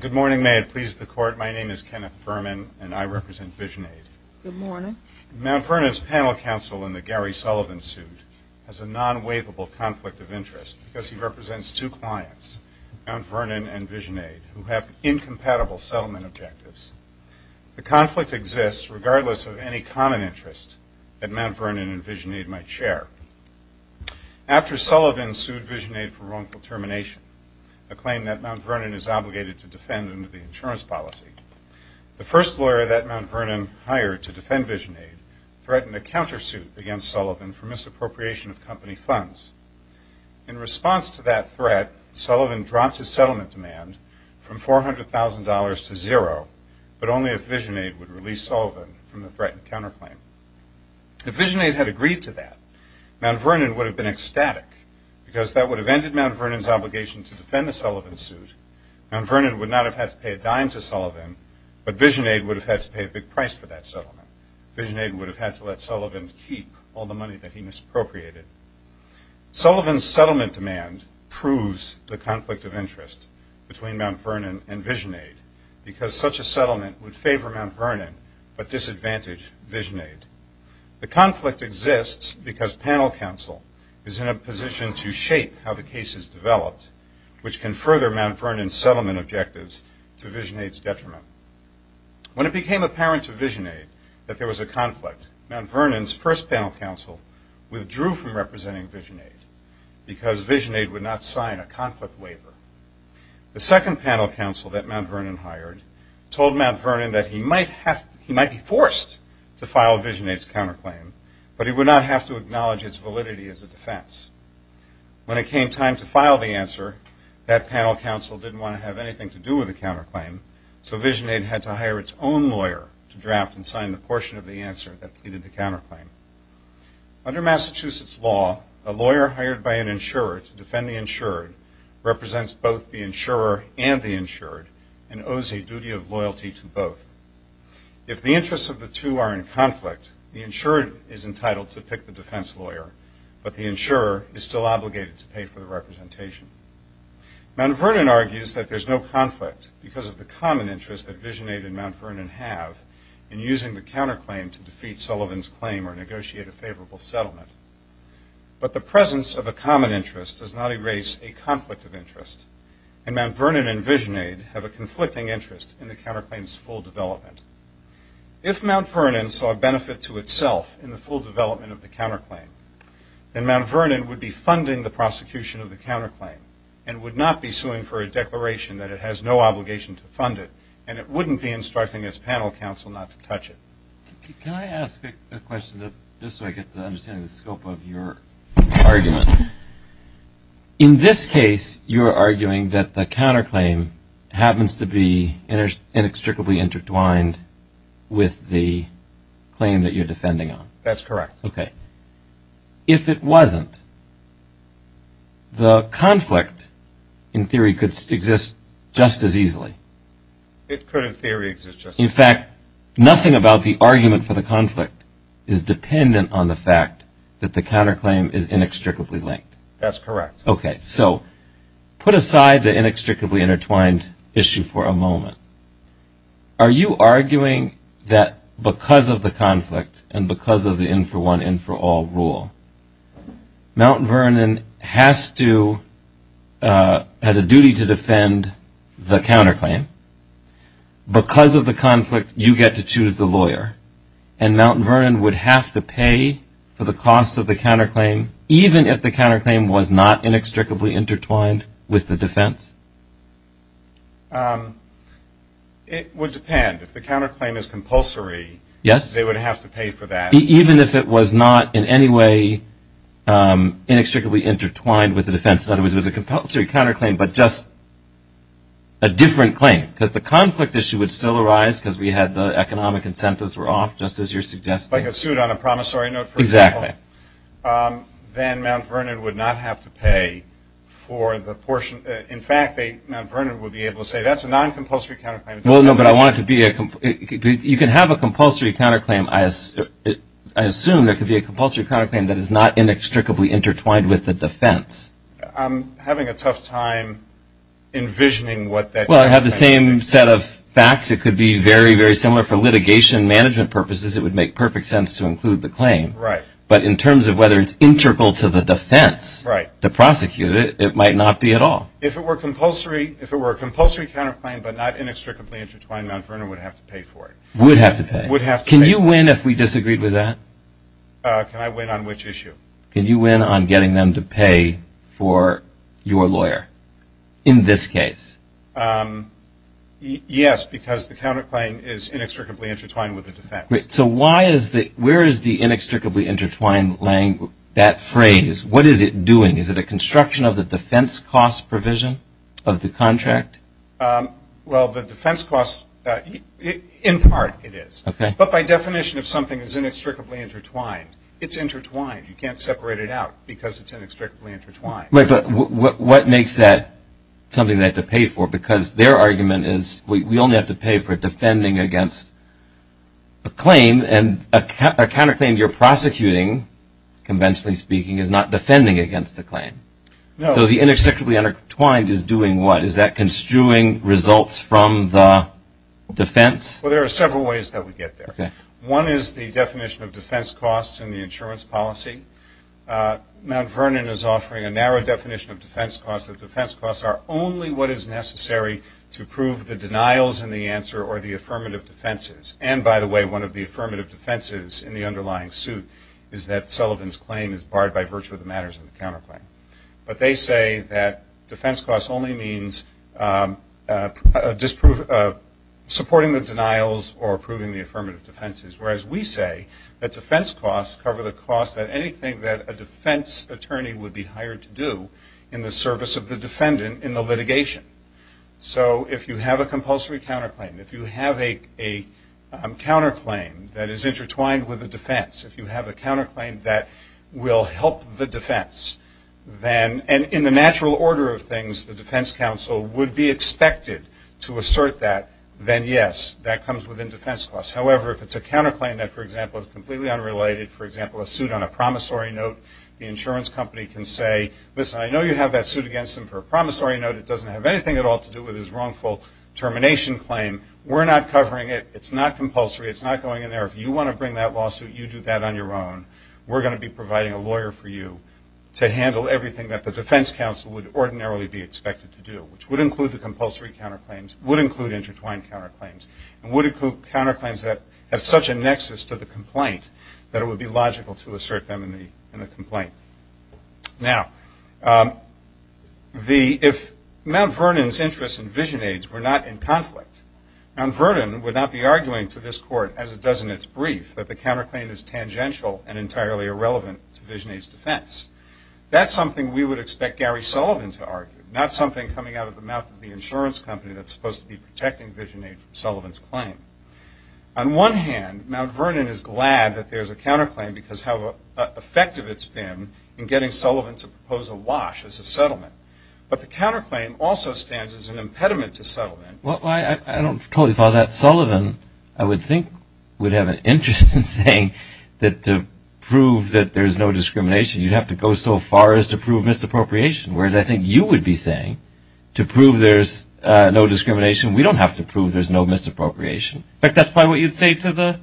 Good morning. May it please the Court, my name is Kenneth Berman and I represent Visionaid. Mount Vernon's panel counsel in the Gary Sullivan suit has a non-waivable conflict of interest because he represents two clients, Mount Vernon and Visionaid, who have incompatible settlement objectives. The conflict exists regardless of any common interest that Mount Vernon and Visionaid might share. After Sullivan sued Visionaid for wrongful termination, a claim that Mount Vernon is obligated to defend under the insurance policy, the first lawyer that Mount Vernon hired to defend Visionaid threatened a countersuit against Sullivan for misappropriation of company funds. In response to that threat, Sullivan dropped his settlement demand from $400,000 to zero, but only if Visionaid would release Sullivan from the threatened counterclaim. If Visionaid had agreed to that, Mount Vernon would have been ecstatic because that would have ended Mount Vernon's obligation to defend the Sullivan suit. Mount Vernon would not have had to pay a dime to Sullivan, but Visionaid would have had to pay a big price for that and Visionaid would have had to let Sullivan keep all the money that he misappropriated. Sullivan's settlement demand proves the conflict of interest between Mount Vernon and Visionaid because such a settlement would favor Mount Vernon but disadvantage Visionaid. The conflict exists because panel counsel is in a position to shape how the case is developed, which can further Mount Vernon's settlement objectives to Visionaid's detriment. When it became apparent to Visionaid that there was a conflict, Mount Vernon's first panel counsel withdrew from representing Visionaid because Visionaid would not sign a conflict waiver. The second panel counsel that Mount Vernon hired told Mount Vernon that he might be forced to file Visionaid's counterclaim, but he would not have to acknowledge its validity as a defense. When it came time to file the answer, that panel counsel didn't want to have anything to do with the counterclaim, so Visionaid had to hire its own lawyer to draft and sign the portion of the answer that pleaded the counterclaim. Under Massachusetts law, a lawyer hired by an insurer to defend the insured represents both the insurer and the insured and owes a duty of loyalty to both. If the interests of the two are in conflict, the insured is entitled to pick the defense lawyer, but the insurer is still obligated to pay for the representation. Mount Vernon argues that there's no conflict because of the common interest that Visionaid and Mount Vernon have in using the counterclaim to defeat Sullivan's claim or negotiate a favorable settlement. But the presence of a common interest does not erase a conflict of interest, and Mount Vernon and Visionaid have a conflicting interest in the counterclaim's full development. If Mount Vernon saw benefit to itself in the full development of the counterclaim, then Mount Vernon would be funding the prosecution of the counterclaim and would not be suing for a declaration that it has no obligation to fund it, and it wouldn't be instructing its panel counsel not to touch it. Can I ask a question, just so I get an understanding of the scope of your argument? In this case, you're arguing that the counterclaim happens to be inextricably intertwined with the claim that you're defending on. That's correct. Okay. If it wasn't, the conflict in theory could exist just as easily. It could in theory exist just as easily. In fact, nothing about the argument for the conflict is dependent on the fact that the counterclaim is inextricably linked. That's correct. Okay, so put aside the inextricably intertwined issue for a moment. Are you arguing that because of the conflict and because of the in-for-one, in-for-all rule, Mount Vernon has a duty to defend the counterclaim? Because of the conflict, you get to choose the lawyer, and Mount Vernon would have to pay for the cost of the counterclaim even if the counterclaim was not inextricably intertwined with the defense? It would depend. If the counterclaim is compulsory, they would have to pay for that. Even if it was not in any way inextricably intertwined with the defense? In other words, it was a compulsory counterclaim, but just a different claim? Because the conflict issue would still arise because we had the economic incentives were off, just as you're suggesting. Like a suit on a promissory note, for example? Exactly. Then Mount Vernon would not have to pay for the portion. In fact, Mount Vernon would be able to say, that's a non-compulsory counterclaim. Well, no, but I want it to be a, you can have a compulsory counterclaim. I assume there could be a compulsory counterclaim that is not inextricably intertwined with the defense. I'm having a tough time envisioning what that could be. Well, I have the same set of facts. It could be very, very similar for litigation management purposes. It would make perfect sense to include the claim. Right. But in terms of whether it's integral to the defense to prosecute it, it might not be at all. If it were a compulsory counterclaim, but not inextricably intertwined, Mount Vernon would have to pay for it. Would have to pay? Would have to pay. Can you win if we disagreed with that? Can I win on which issue? Can you win on getting them to pay for your lawyer in this case? Yes, because the counterclaim is inextricably intertwined with the defense. So why is the, where is the inextricably intertwined that phrase? What is it doing? Is it a construction of the defense cost provision of the contract? Well, the defense costs, in part it is. But by definition, if something is inextricably intertwined, it's intertwined. You can't separate it out because it's inextricably intertwined. But what makes that something they have to claim and a counterclaim you're prosecuting, conventionally speaking, is not defending against the claim. So the inextricably intertwined is doing what? Is that construing results from the defense? Well, there are several ways that we get there. One is the definition of defense costs and the insurance policy. Mount Vernon is offering a narrow definition of defense costs. The defense costs are only what is necessary to prove the denials in the answer or the affirmative defenses. And by the way, one of the affirmative defenses in the underlying suit is that Sullivan's claim is barred by virtue of the matters of the counterclaim. But they say that defense costs only means supporting the denials or approving the affirmative defenses. Whereas we say that defense costs cover the cost of anything that a defense attorney would be hired to do in the service of the defendant in the litigation. So if you have a compulsory counterclaim, if you have a counterclaim that is intertwined with a defense, if you have a counterclaim that will help the defense, then in the natural order of things, the defense counsel would be expected to assert that, then yes, that comes within defense costs. However, if it's a counterclaim that, for example, is completely unrelated, for example, a suit on a promissory note, the insurance company can say, listen, I know you have that suit against him for a promissory note. It doesn't have anything at all to do with his wrongful termination claim. We're not covering it. It's not compulsory. It's not going in there. If you want to bring that lawsuit, you do that on your own. We're going to be providing a lawyer for you to handle everything that the defense counsel would ordinarily be expected to do, which would include the compulsory counterclaims, would include intertwined counterclaims, and would include counterclaims that have such a nexus to the complaint that it would be logical to assert them in the complaint. Now, if Mount Vernon's interests and VisionAid's were not in conflict, Mount Vernon would not be arguing to this court, as it does in its brief, that the counterclaim is tangential and entirely irrelevant to VisionAid's defense. That's something we would expect Gary Sullivan to argue, not something coming out of the mouth of the insurance company that's supposed to be protecting VisionAid from Sullivan's claim. On one hand, Mount Vernon is glad that there's a counterclaim, because how effective it's been in getting Sullivan to propose a wash as a settlement. But the counterclaim also stands as an impediment to settlement. Well, I don't totally follow that. Sullivan, I would think, would have an interest in saying that to prove that there's no discrimination, you'd have to go so far as to prove misappropriation. Whereas I think you would be saying, to prove there's no discrimination, we don't have to prove there's no misappropriation. In fact, that's probably what you'd say to the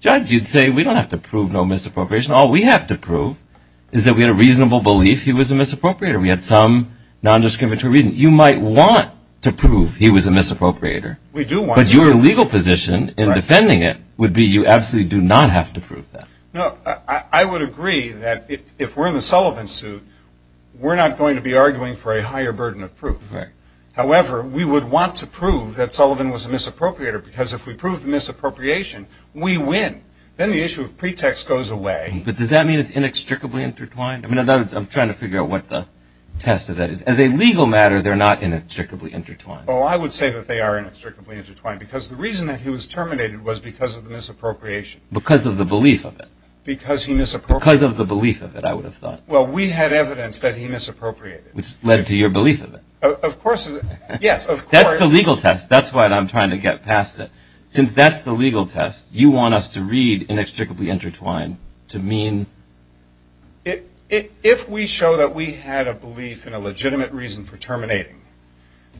judge. You'd say, we don't have to prove no misappropriation. All we have to prove is that we had a reasonable belief he was a misappropriator. We had some non-discriminatory reason. You might want to prove he was a misappropriator. We do want to. But your legal position in defending it would be you absolutely do not have to prove that. No, I would agree that if we're in the Sullivan suit, we're not going to be arguing for a higher burden of proof. However, we would want to prove that Sullivan was a misappropriator, because if we prove the misappropriation, we win. Then the issue of pretext goes away. But does that mean it's inextricably intertwined? I'm trying to figure out what the test of that is. As a legal matter, they're not inextricably intertwined. Oh, I would say that they are inextricably intertwined, because the reason that he was terminated was because of the misappropriation. Because of the belief of it. Because he misappropriated. Because of the belief of it, I would have thought. Well, we had evidence that he misappropriated. Which led to your belief of it. Of course. Yes, of course. That's the legal test. That's why I'm trying to get past it. Since that's the test, you want us to read inextricably intertwined to mean? If we show that we had a belief in a legitimate reason for terminating,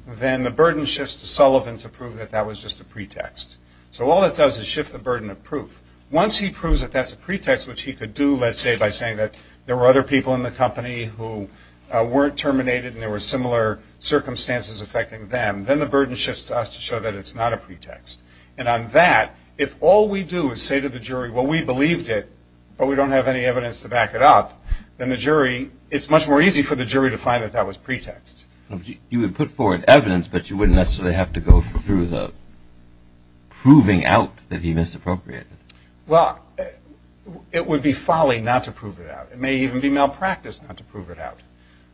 then the burden shifts to Sullivan to prove that that was just a pretext. So all it does is shift the burden of proof. Once he proves that that's a pretext, which he could do, let's say, by saying that there were other people in the company who weren't terminated and there were similar circumstances affecting them, then the burden shifts to us to show that it's not a pretext. And on that, if all we do is say to the jury, well, we believed it, but we don't have any evidence to back it up, then the jury, it's much more easy for the jury to find that that was pretext. You would put forward evidence, but you wouldn't necessarily have to go through the proving out that he misappropriated. Well, it would be folly not to prove it out. It may even be malpractice not to prove it out.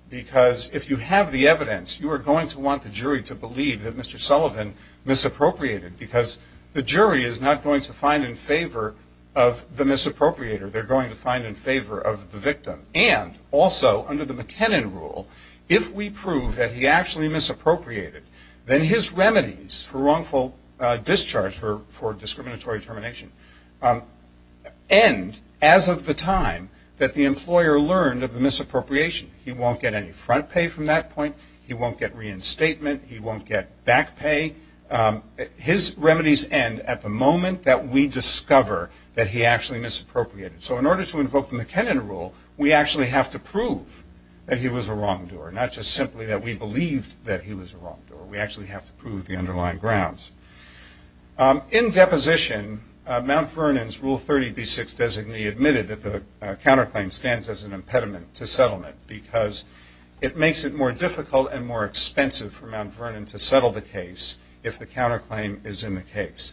Because if you have the evidence, you are going to want the jury to believe that Mr. Sullivan misappropriated because the jury is not going to find in favor of the misappropriator. They're going to find in favor of the victim. And also, under the McKinnon rule, if we prove that he actually misappropriated, then his remedies for wrongful discharge or for discriminatory termination end as of the time that the employer learned of the misappropriation. He won't get any front pay from that point. He won't get reinstatement. He won't get back pay. His remedies end at the moment that we discover that he actually misappropriated. So in order to invoke the McKinnon rule, we actually have to prove that he was a wrongdoer, not just simply that we believed that he was a wrongdoer. We actually have to prove the underlying grounds. In deposition, Mount Vernon's Rule 30b-6 designee admitted that the counterclaim stands as an expense for Mount Vernon to settle the case if the counterclaim is in the case.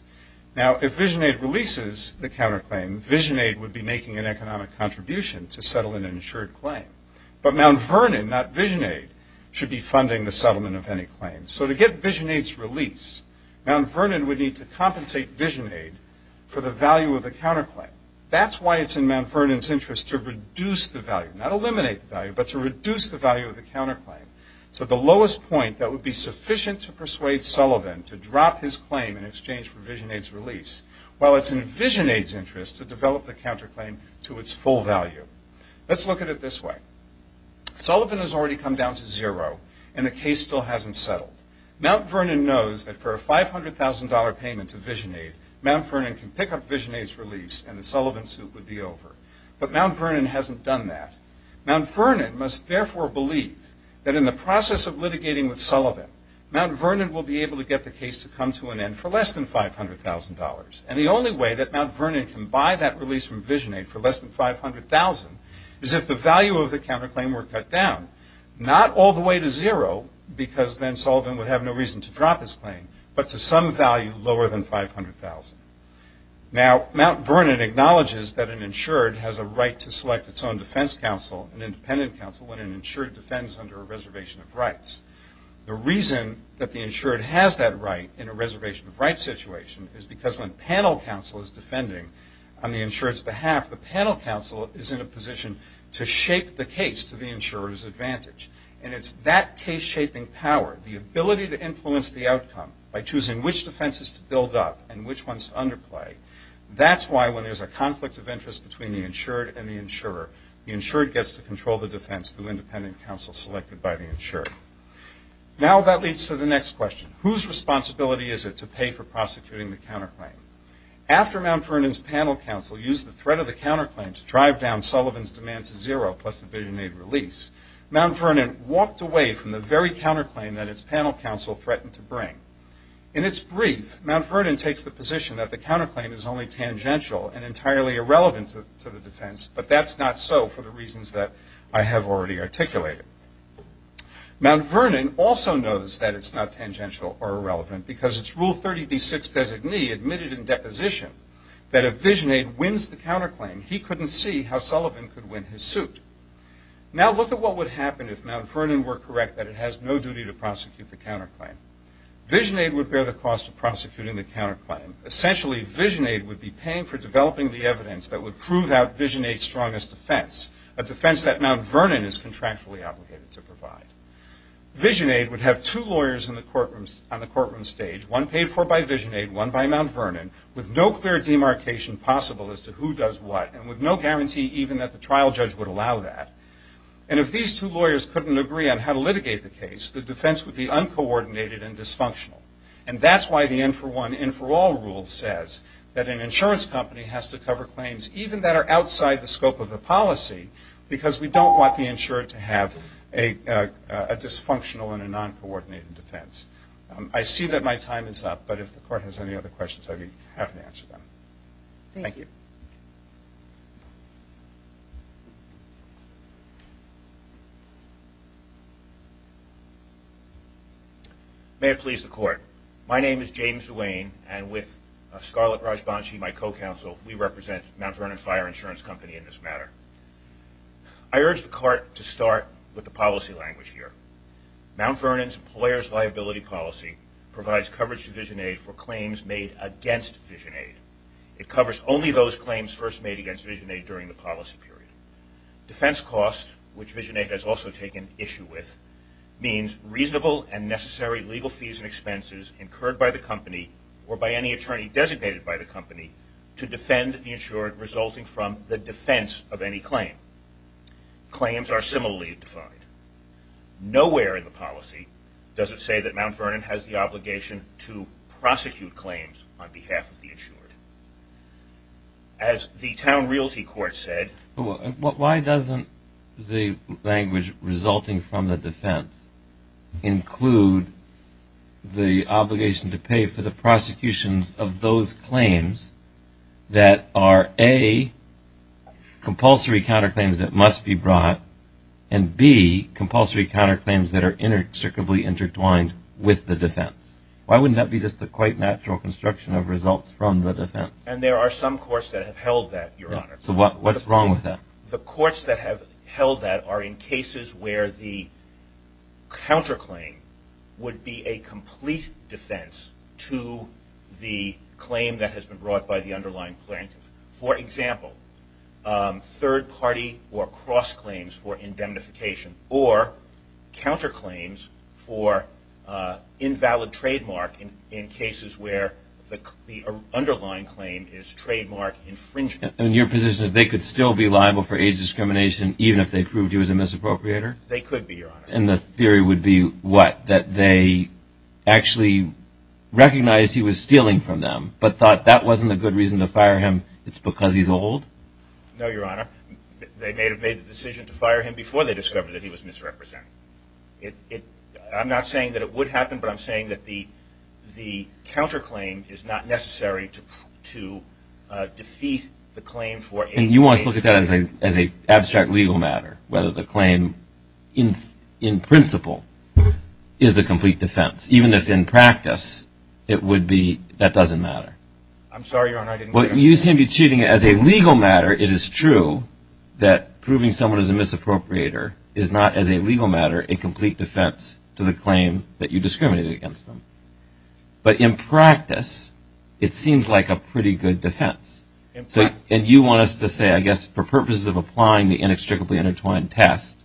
Now, if VisionAid releases the counterclaim, VisionAid would be making an economic contribution to settle an insured claim. But Mount Vernon, not VisionAid, should be funding the settlement of any claims. So to get VisionAid's release, Mount Vernon would need to compensate VisionAid for the value of the counterclaim. That's why it's in Mount Vernon's interest to reduce the value, not eliminate the value, but to reduce the value of the counterclaim. So the lowest point that would be sufficient to persuade Sullivan to drop his claim in exchange for VisionAid's release, well, it's in VisionAid's interest to develop the counterclaim to its full value. Let's look at it this way. Sullivan has already come down to zero and the case still hasn't settled. Mount Vernon knows that for a $500,000 payment to VisionAid, Mount Vernon can pick up VisionAid's release and the Sullivan suit would be over. But Mount Vernon must therefore believe that in the process of litigating with Sullivan, Mount Vernon will be able to get the case to come to an end for less than $500,000. And the only way that Mount Vernon can buy that release from VisionAid for less than $500,000 is if the value of the counterclaim were cut down, not all the way to zero, because then Sullivan would have no reason to drop his claim, but to some value lower than $500,000. Now, Mount Vernon acknowledges that an insured has a right to select its own defense counsel and independent counsel when an insured defends under a reservation of rights. The reason that the insured has that right in a reservation of rights situation is because when panel counsel is defending on the insured's behalf, the panel counsel is in a position to shape the case to the insurer's advantage. And it's that case-shaping power, the ability to influence the outcome by choosing which defenses to build up and which ones to underplay, that's why when there's a conflict of interest between the insured and the insurer, the insured gets to control the defense through independent counsel selected by the insured. Now that leads to the next question. Whose responsibility is it to pay for prosecuting the counterclaim? After Mount Vernon's panel counsel used the threat of the counterclaim to drive down Sullivan's demand to zero, plus the VisionAid release, Mount Vernon walked away from the very counterclaim that its panel counsel threatened to bring. In its brief, Mount Vernon takes the position that the counterclaim is only tangential and entirely irrelevant to the defense. But that's not so for the reasons that I have already articulated. Mount Vernon also knows that it's not tangential or irrelevant because its Rule 30b-6 designee admitted in deposition that if VisionAid wins the counterclaim, he couldn't see how Sullivan could win his suit. Now look at what would happen if Mount Vernon were correct that it has no duty to prosecute the counterclaim. VisionAid would bear the cost of prosecuting the counterclaim. Essentially, VisionAid would be paying for developing the evidence that would prove out VisionAid's strongest defense, a defense that Mount Vernon is contractually obligated to provide. VisionAid would have two lawyers on the courtroom stage, one paid for by VisionAid, one by Mount Vernon, with no clear demarcation possible as to who does what and with no guarantee even that the trial judge would allow that. And if these two lawyers couldn't agree on how to litigate the case, the defense would be uncoordinated and dysfunctional. And that's why the end-for-one, end-for-all rule says that an insurance company has to deliver claims even that are outside the scope of the policy because we don't want the insurer to have a dysfunctional and a non-coordinated defense. I see that my time is up, but if the Court has any other questions, I'd be happy to answer them. Thank you. May it please the Court. My name is James Duane, and with Scarlett Rajbanshi, my co-counsel, we represent Mount Vernon Fire Insurance Company in this matter. I urge the Court to start with the policy language here. Mount Vernon's Employer's Liability Policy provides coverage to VisionAid for claims made against VisionAid. It covers only those claims first made against VisionAid during the policy period. Defense costs, which VisionAid has also taken issue with, means reasonable and necessary legal fees and expenses incurred by the company or by any attorney designated by the company to defend the insured resulting from the defense of any claim. Claims are similarly defined. Nowhere in the policy does it say that Mount Vernon has the obligation to prosecute claims on behalf of the insured. As the Town Realty Court said... Why doesn't the language resulting from the defense include the obligation to pay for the prosecutions of those claims that are A, compulsory counterclaims that must be brought, and B, compulsory counterclaims that are inextricably intertwined with the defense? Why wouldn't that be just a quite natural construction of results from the defense? And there are some courts that have held that, Your Honor. So what's wrong with that? The courts that have held that are in cases where the counterclaim would be a complete defense to the claim that has been brought by the underlying plaintiff. For example, third-party or cross-claims for indemnification or counterclaims for invalid trademark in cases where the underlying claim is trademark infringement. And your position is they could still be liable for AIDS discrimination even if they proved he was a misappropriator? They could be, Your Honor. And the theory would be what? That they actually recognized he was stealing from them, but thought that wasn't a good reason to fire him. It's because he's old? No, Your Honor. They may have made the decision to fire him before they discovered that he was misrepresenting. I'm not saying that it would happen, but I'm saying that the counterclaim is not necessary to defeat the claim for AIDS... And you want us to look at that as an abstract legal matter, whether the claim in principle is a complete defense, even if in practice it would be that doesn't matter? I'm sorry, Your Honor, I didn't... Well, you seem to be treating it as a legal matter. It is true that proving someone is a misappropriator is not, as a legal matter, a complete defense to the claim that you discriminated against them. But in practice, it seems like a pretty good defense. And you want us to say, I guess, for purposes of applying the inextricably intertwined test,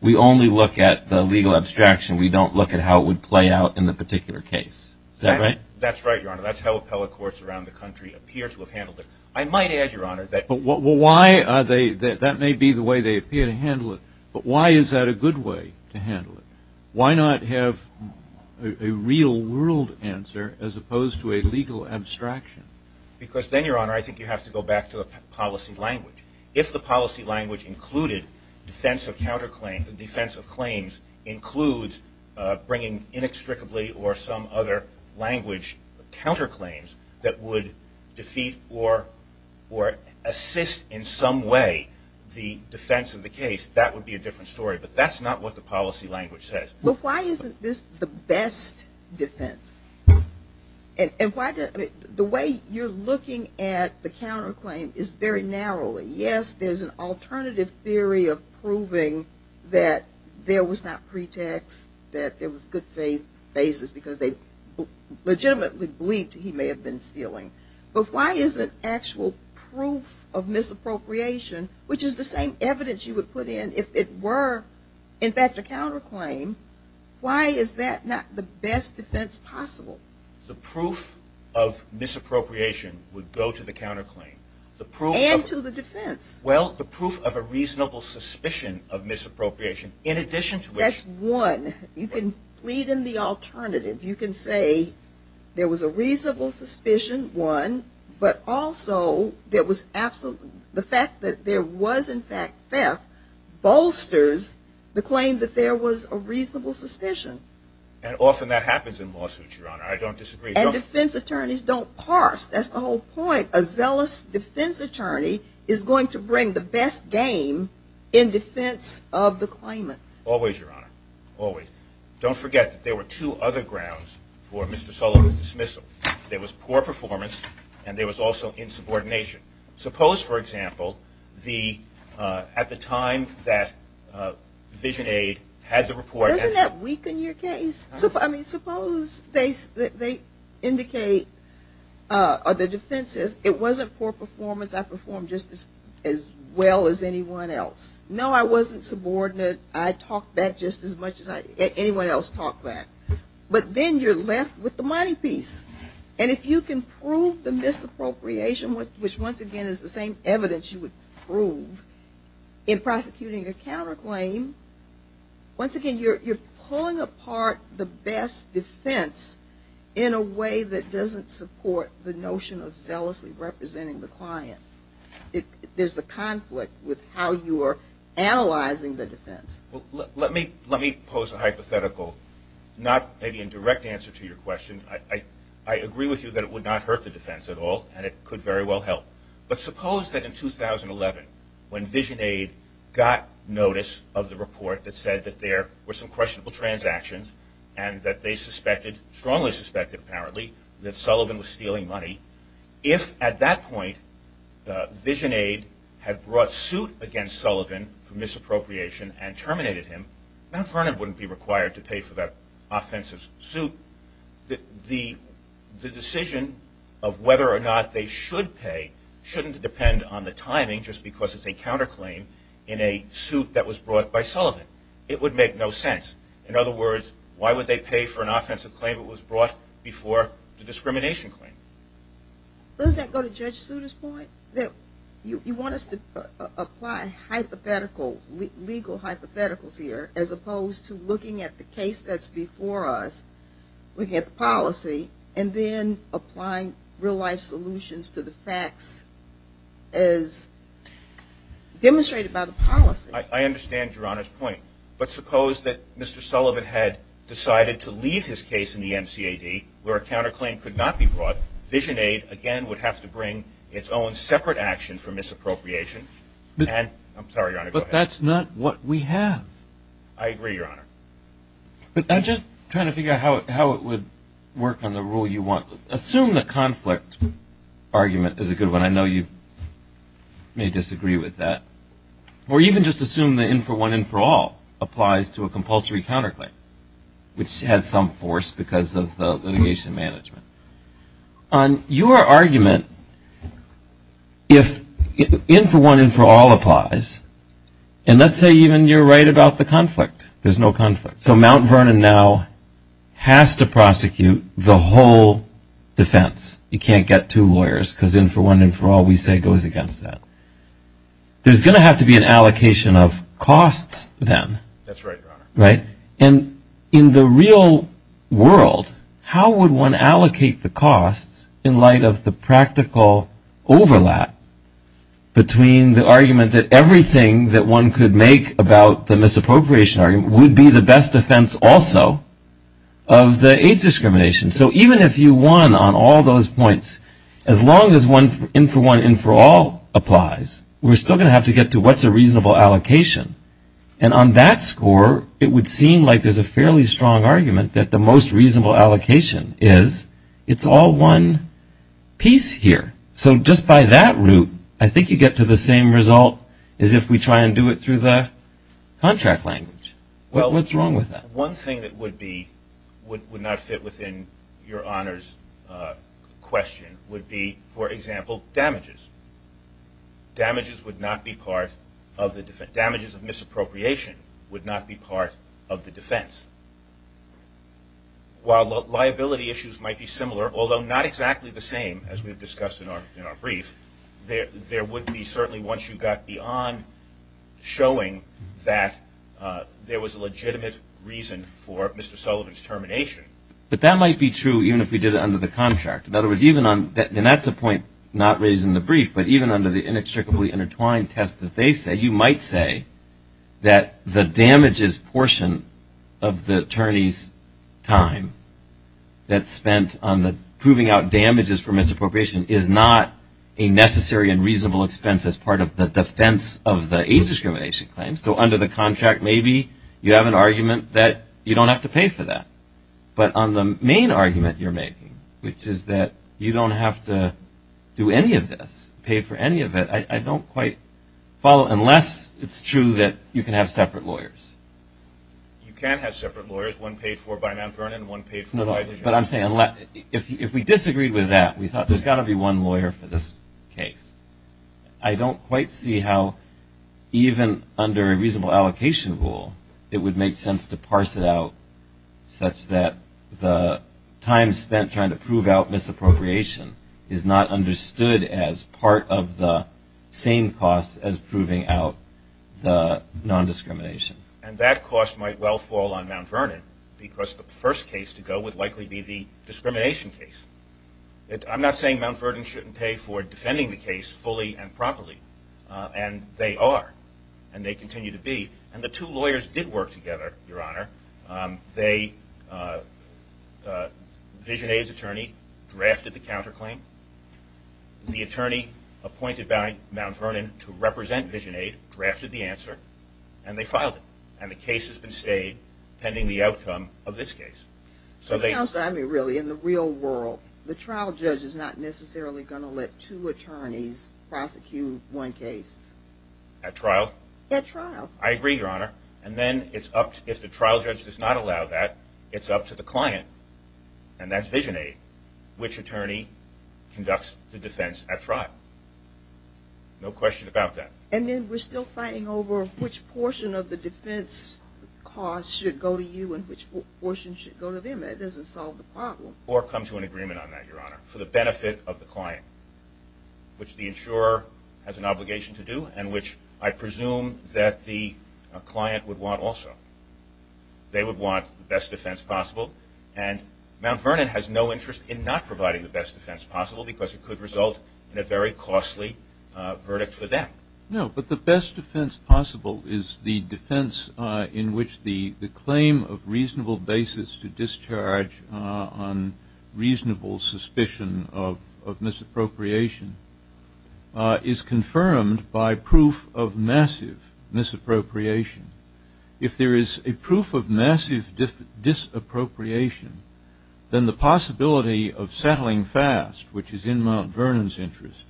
we only look at the legal abstraction. We don't look at how it would play out in the particular case. Is that right? That's right, Your Honor. That's how appellate courts around the country appear to have handled it. I might add, Your Honor, that... Well, why are they... That may be the way they appear to handle it, but why is that a good way to handle it? Why not have a real world answer as opposed to a legal abstraction? Because then, Your Honor, I think you have to go back to the policy language. If the policy language included defense of claims includes bringing inextricably or some other language counterclaims that would defeat or assist in some way the defense of the case, that would be a different story. But that's not what the policy language says. But why isn't this the best defense? And why... The way you're looking at the counterclaim is very narrowly. Yes, there's an alternative theory of proving that there was not pretext, that there was good faith basis because they legitimately believed he may have been stealing. But why isn't actual proof of misappropriation, which is the same evidence you would put in if it were, in fact, a counterclaim, why is that not the best defense possible? The proof of misappropriation would go to the counterclaim. And to the defense. Well, the proof of a reasonable suspicion of misappropriation, in addition to which... That's one. You can plead in the alternative. You can say there was a reasonable suspicion, one, but also there was absolute... The fact that there was, in fact, theft bolsters the claim that there was a reasonable suspicion. And often that happens in lawsuits, Your Honor. I don't disagree. And defense attorneys don't parse. That's the whole point. A zealous defense attorney is going to bring the best game in defense of the claimant. Always, Your Honor. Always. Don't forget that there were two other grounds for Mr. Sullivan's dismissal. There was poor performance and there was also insubordination. Suppose, for example, at the time that Vision Aid had the report... Doesn't that weaken your case? I mean, suppose they indicate, or the defense says, it wasn't poor performance, I performed just as well as anyone else. No, I wasn't subordinate. I talked back just as much as anyone else talked back. But then you're left with the money piece. And if you can prove the misappropriation, which once again is the same evidence you would prove, in prosecuting a counterclaim, once again you're pulling apart the best defense in a way that doesn't support the notion of zealously representing the client. There's a conflict with how you're analyzing the defense. Let me pose a hypothetical, not maybe a direct answer to your question. I agree with you that it would not hurt the defense at all, and it could very well help. But suppose that in 2011, when Vision Aid got notice of the report that said that there were some questionable transactions and that they suspected, strongly suspected apparently, that Sullivan was stealing money. If at that point Vision Aid had brought suit against Sullivan for misappropriation and terminated him, Mount Vernon wouldn't be required to pay for that offensive suit. The decision of whether or not they should pay shouldn't depend on the timing just because it's a counterclaim in a suit that was brought by Sullivan. It would make no sense. In other words, why would they pay for an offensive claim that was brought before the discrimination claim? Does that go to Judge Souter's point? You want us to apply hypothetical, legal hypotheticals here as opposed to looking at the case that's before us, looking at the policy, and then applying real-life solutions to the facts as demonstrated by the policy? I understand Your Honor's point. But suppose that Mr. Sullivan had decided to leave his case in the MCAD where a counterclaim could not be brought, Vision Aid again would have to bring its own separate action for misappropriation. I'm sorry, Your Honor, go ahead. That's not what we have. I agree, Your Honor. But I'm just trying to figure out how it would work on the rule you want. Assume the conflict argument is a good one. I know you may disagree with that. Or even just assume the in-for-one, in-for-all applies to a compulsory counterclaim, which has some force because of the litigation management. On your argument, if in-for-one, in-for-all applies, and let's say even you're right about the conflict. There's no conflict. So Mount Vernon now has to prosecute the whole defense. You can't get two lawyers because in-for-one, in-for-all we say goes against that. There's going to have to be an allocation of costs then. That's right, Your Honor. And in the real world, how would one allocate the costs in light of the practical overlap between the argument that everything that one could make about the misappropriation argument would be the best defense also of the age discrimination? So even if you won on all those points, as long as one in-for-one, in-for-all applies, we're still going to have to get to what's a reasonable allocation. And on that score, it would seem like there's a fairly strong argument that the most reasonable allocation is it's all one piece here. So just by that route, I think you get to the same result as if we try and do it through the contract language. What's wrong with that? One thing that would not fit within Your Honor's question would be, for example, damages. Damages would not be part of the defense. Damages of misappropriation would not be part of the defense. While liability issues might be similar, although not exactly the same as we've discussed in our brief, there would be certainly, once you got beyond showing that there was a legitimate reason for Mr. Sullivan's termination. But that might be true even if we did it under the contract. In other words, even on, and that's a point not raised in the brief, but even under the inextricably intertwined test that they say, you might say that the damages portion of the attorney's time that's spent on the proving out damages for misappropriation is not a necessary and reasonable expense as part of the defense of the age discrimination claim. So under the contract, maybe you have an argument that you don't have to pay for that. But on the main argument you're making, which is that you don't have to do any of this, pay for any of it, I don't quite follow, unless it's true that you can have separate lawyers. You can have separate lawyers, one paid for by Mount Vernon, one paid for by the judge. But I'm saying if we disagreed with that, we thought there's got to be one lawyer for this case. I don't quite see how even under a reasonable allocation rule, it would make sense to parse it out such that the time spent trying to prove out misappropriation is not understood as part of the same cost as proving out the non-discrimination. And that cost might well fall on Mount Vernon, because the first case to go would likely be the discrimination case. I'm not saying Mount Vernon shouldn't pay for defending the case fully and properly, and they are, and they continue to be. And the two lawyers did work together, Your Honor. VisionAid's attorney drafted the counterclaim. The attorney appointed by Mount Vernon to represent VisionAid drafted the answer, and they filed it. And the case has been stayed pending the outcome of this case. So, in the real world, the trial judge is not necessarily going to let two attorneys prosecute one case? At trial? At trial. I agree, Your Honor. And then it's up to, if the trial judge does not allow that, it's up to the client, and that's VisionAid, which attorney conducts the defense at trial. No question about that. And then we're still fighting over which portion of the defense cost should go to you and which portion should go to them. That doesn't solve the problem. Or come to an agreement on that, Your Honor, for the benefit of the client, which the insurer has an obligation to do, and which I presume that the client would want also. They would want the best defense possible. And Mount Vernon has no interest in not providing the best defense possible, because it could result in a very costly verdict for them. No, but the best defense possible is the defense in which the claim of reasonable basis to discharge on reasonable suspicion of misappropriation is confirmed by proof of massive misappropriation. If there is a proof of massive disappropriation, then the possibility of settling fast, which is in Mount Vernon's interest,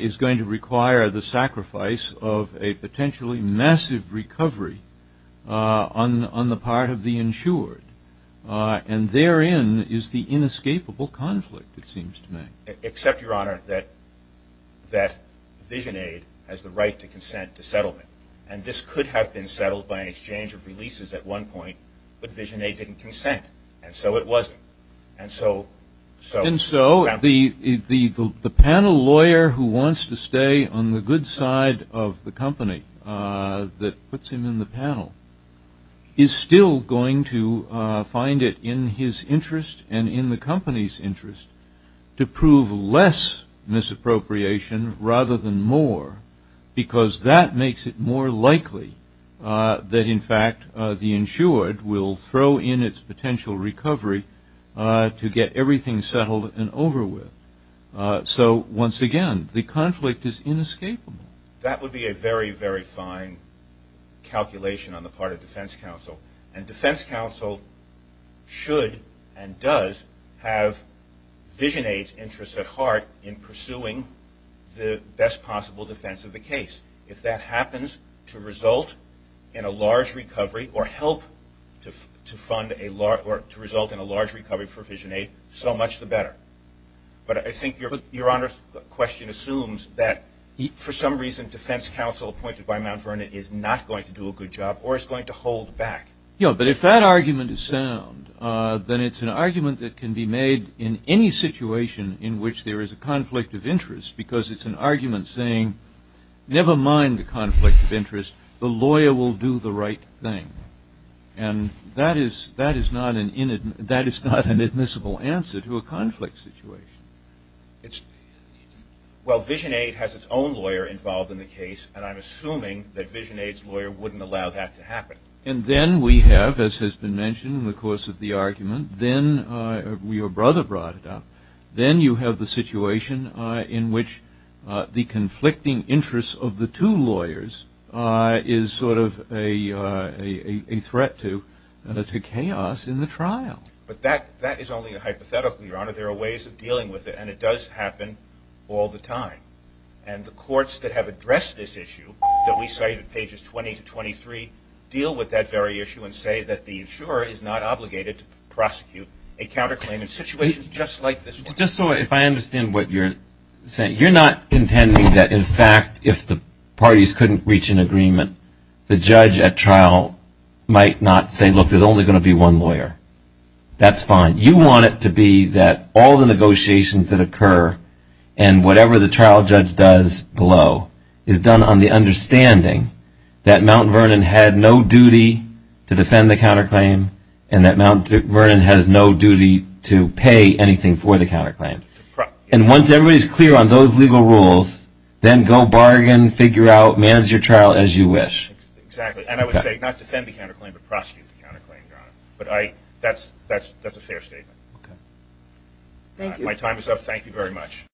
is going to require the sacrifice of a potentially massive recovery on the part of the insured. And therein is the inescapable conflict, it seems to me. Except, Your Honor, that VisionAid has the right to consent to settlement. And this could have been settled by an exchange of releases at one point, but VisionAid didn't consent, and so it wasn't. And so the panel lawyer who wants to stay on the good side of the company that puts him in the panel is still going to find it in his interest and in the company's interest to prove less misappropriation rather than more, because that makes it more likely that in fact the insured will throw in its potential recovery to get everything settled and over with. So once again, the conflict is inescapable. That would be a very, very fine calculation on the part of defense counsel. And defense counsel should and does have VisionAid's interest at heart in pursuing the best possible defense of the case. If that happens to result in a large recovery or help to result in a large recovery for VisionAid, so much the better. But I think Your Honor's question assumes that for some reason defense counsel appointed by Mount Vernon is not going to do a good job or is going to hold back. Yeah, but if that argument is sound, then it's an argument that can be made in any situation in which there is a conflict of interest, because it's an argument saying, never mind the conflict of interest, the lawyer will do the right thing. And that is not an admissible answer to a conflict situation. Well VisionAid has its own lawyer involved in the case, and I'm assuming that VisionAid's lawyer wouldn't allow that to happen. And then we have, as has been mentioned in the course of the argument, then your brother brought it up. Then you have the situation in which the conflicting interests of the two lawyers is sort of a threat to chaos in the trial. But that is only a hypothetical, Your Honor. There are ways of dealing with it, and it does happen all the time. And the courts that have addressed this issue, that we cite at pages 20 to 23, deal with that very issue and say that the insurer is not obligated to prosecute a counterclaim in situations just like this one. Just so I understand what you're saying, you're not contending that, in fact, if the parties couldn't reach an agreement, the judge at trial might not say, look, there's only going to be one lawyer. That's fine. You want it to be that all the negotiations that occur and whatever the trial judge does below is done on the understanding that Mount Vernon had no duty to defend the counterclaim and that Mount Vernon has no duty to pay anything for the counterclaim. And once everybody's clear on those legal rules, then go bargain, figure out, manage your trial as you wish. Exactly. And I would say not defend the counterclaim, but prosecute the counterclaim, Your Honor. But that's a fair statement. My time is up. Thank you very much.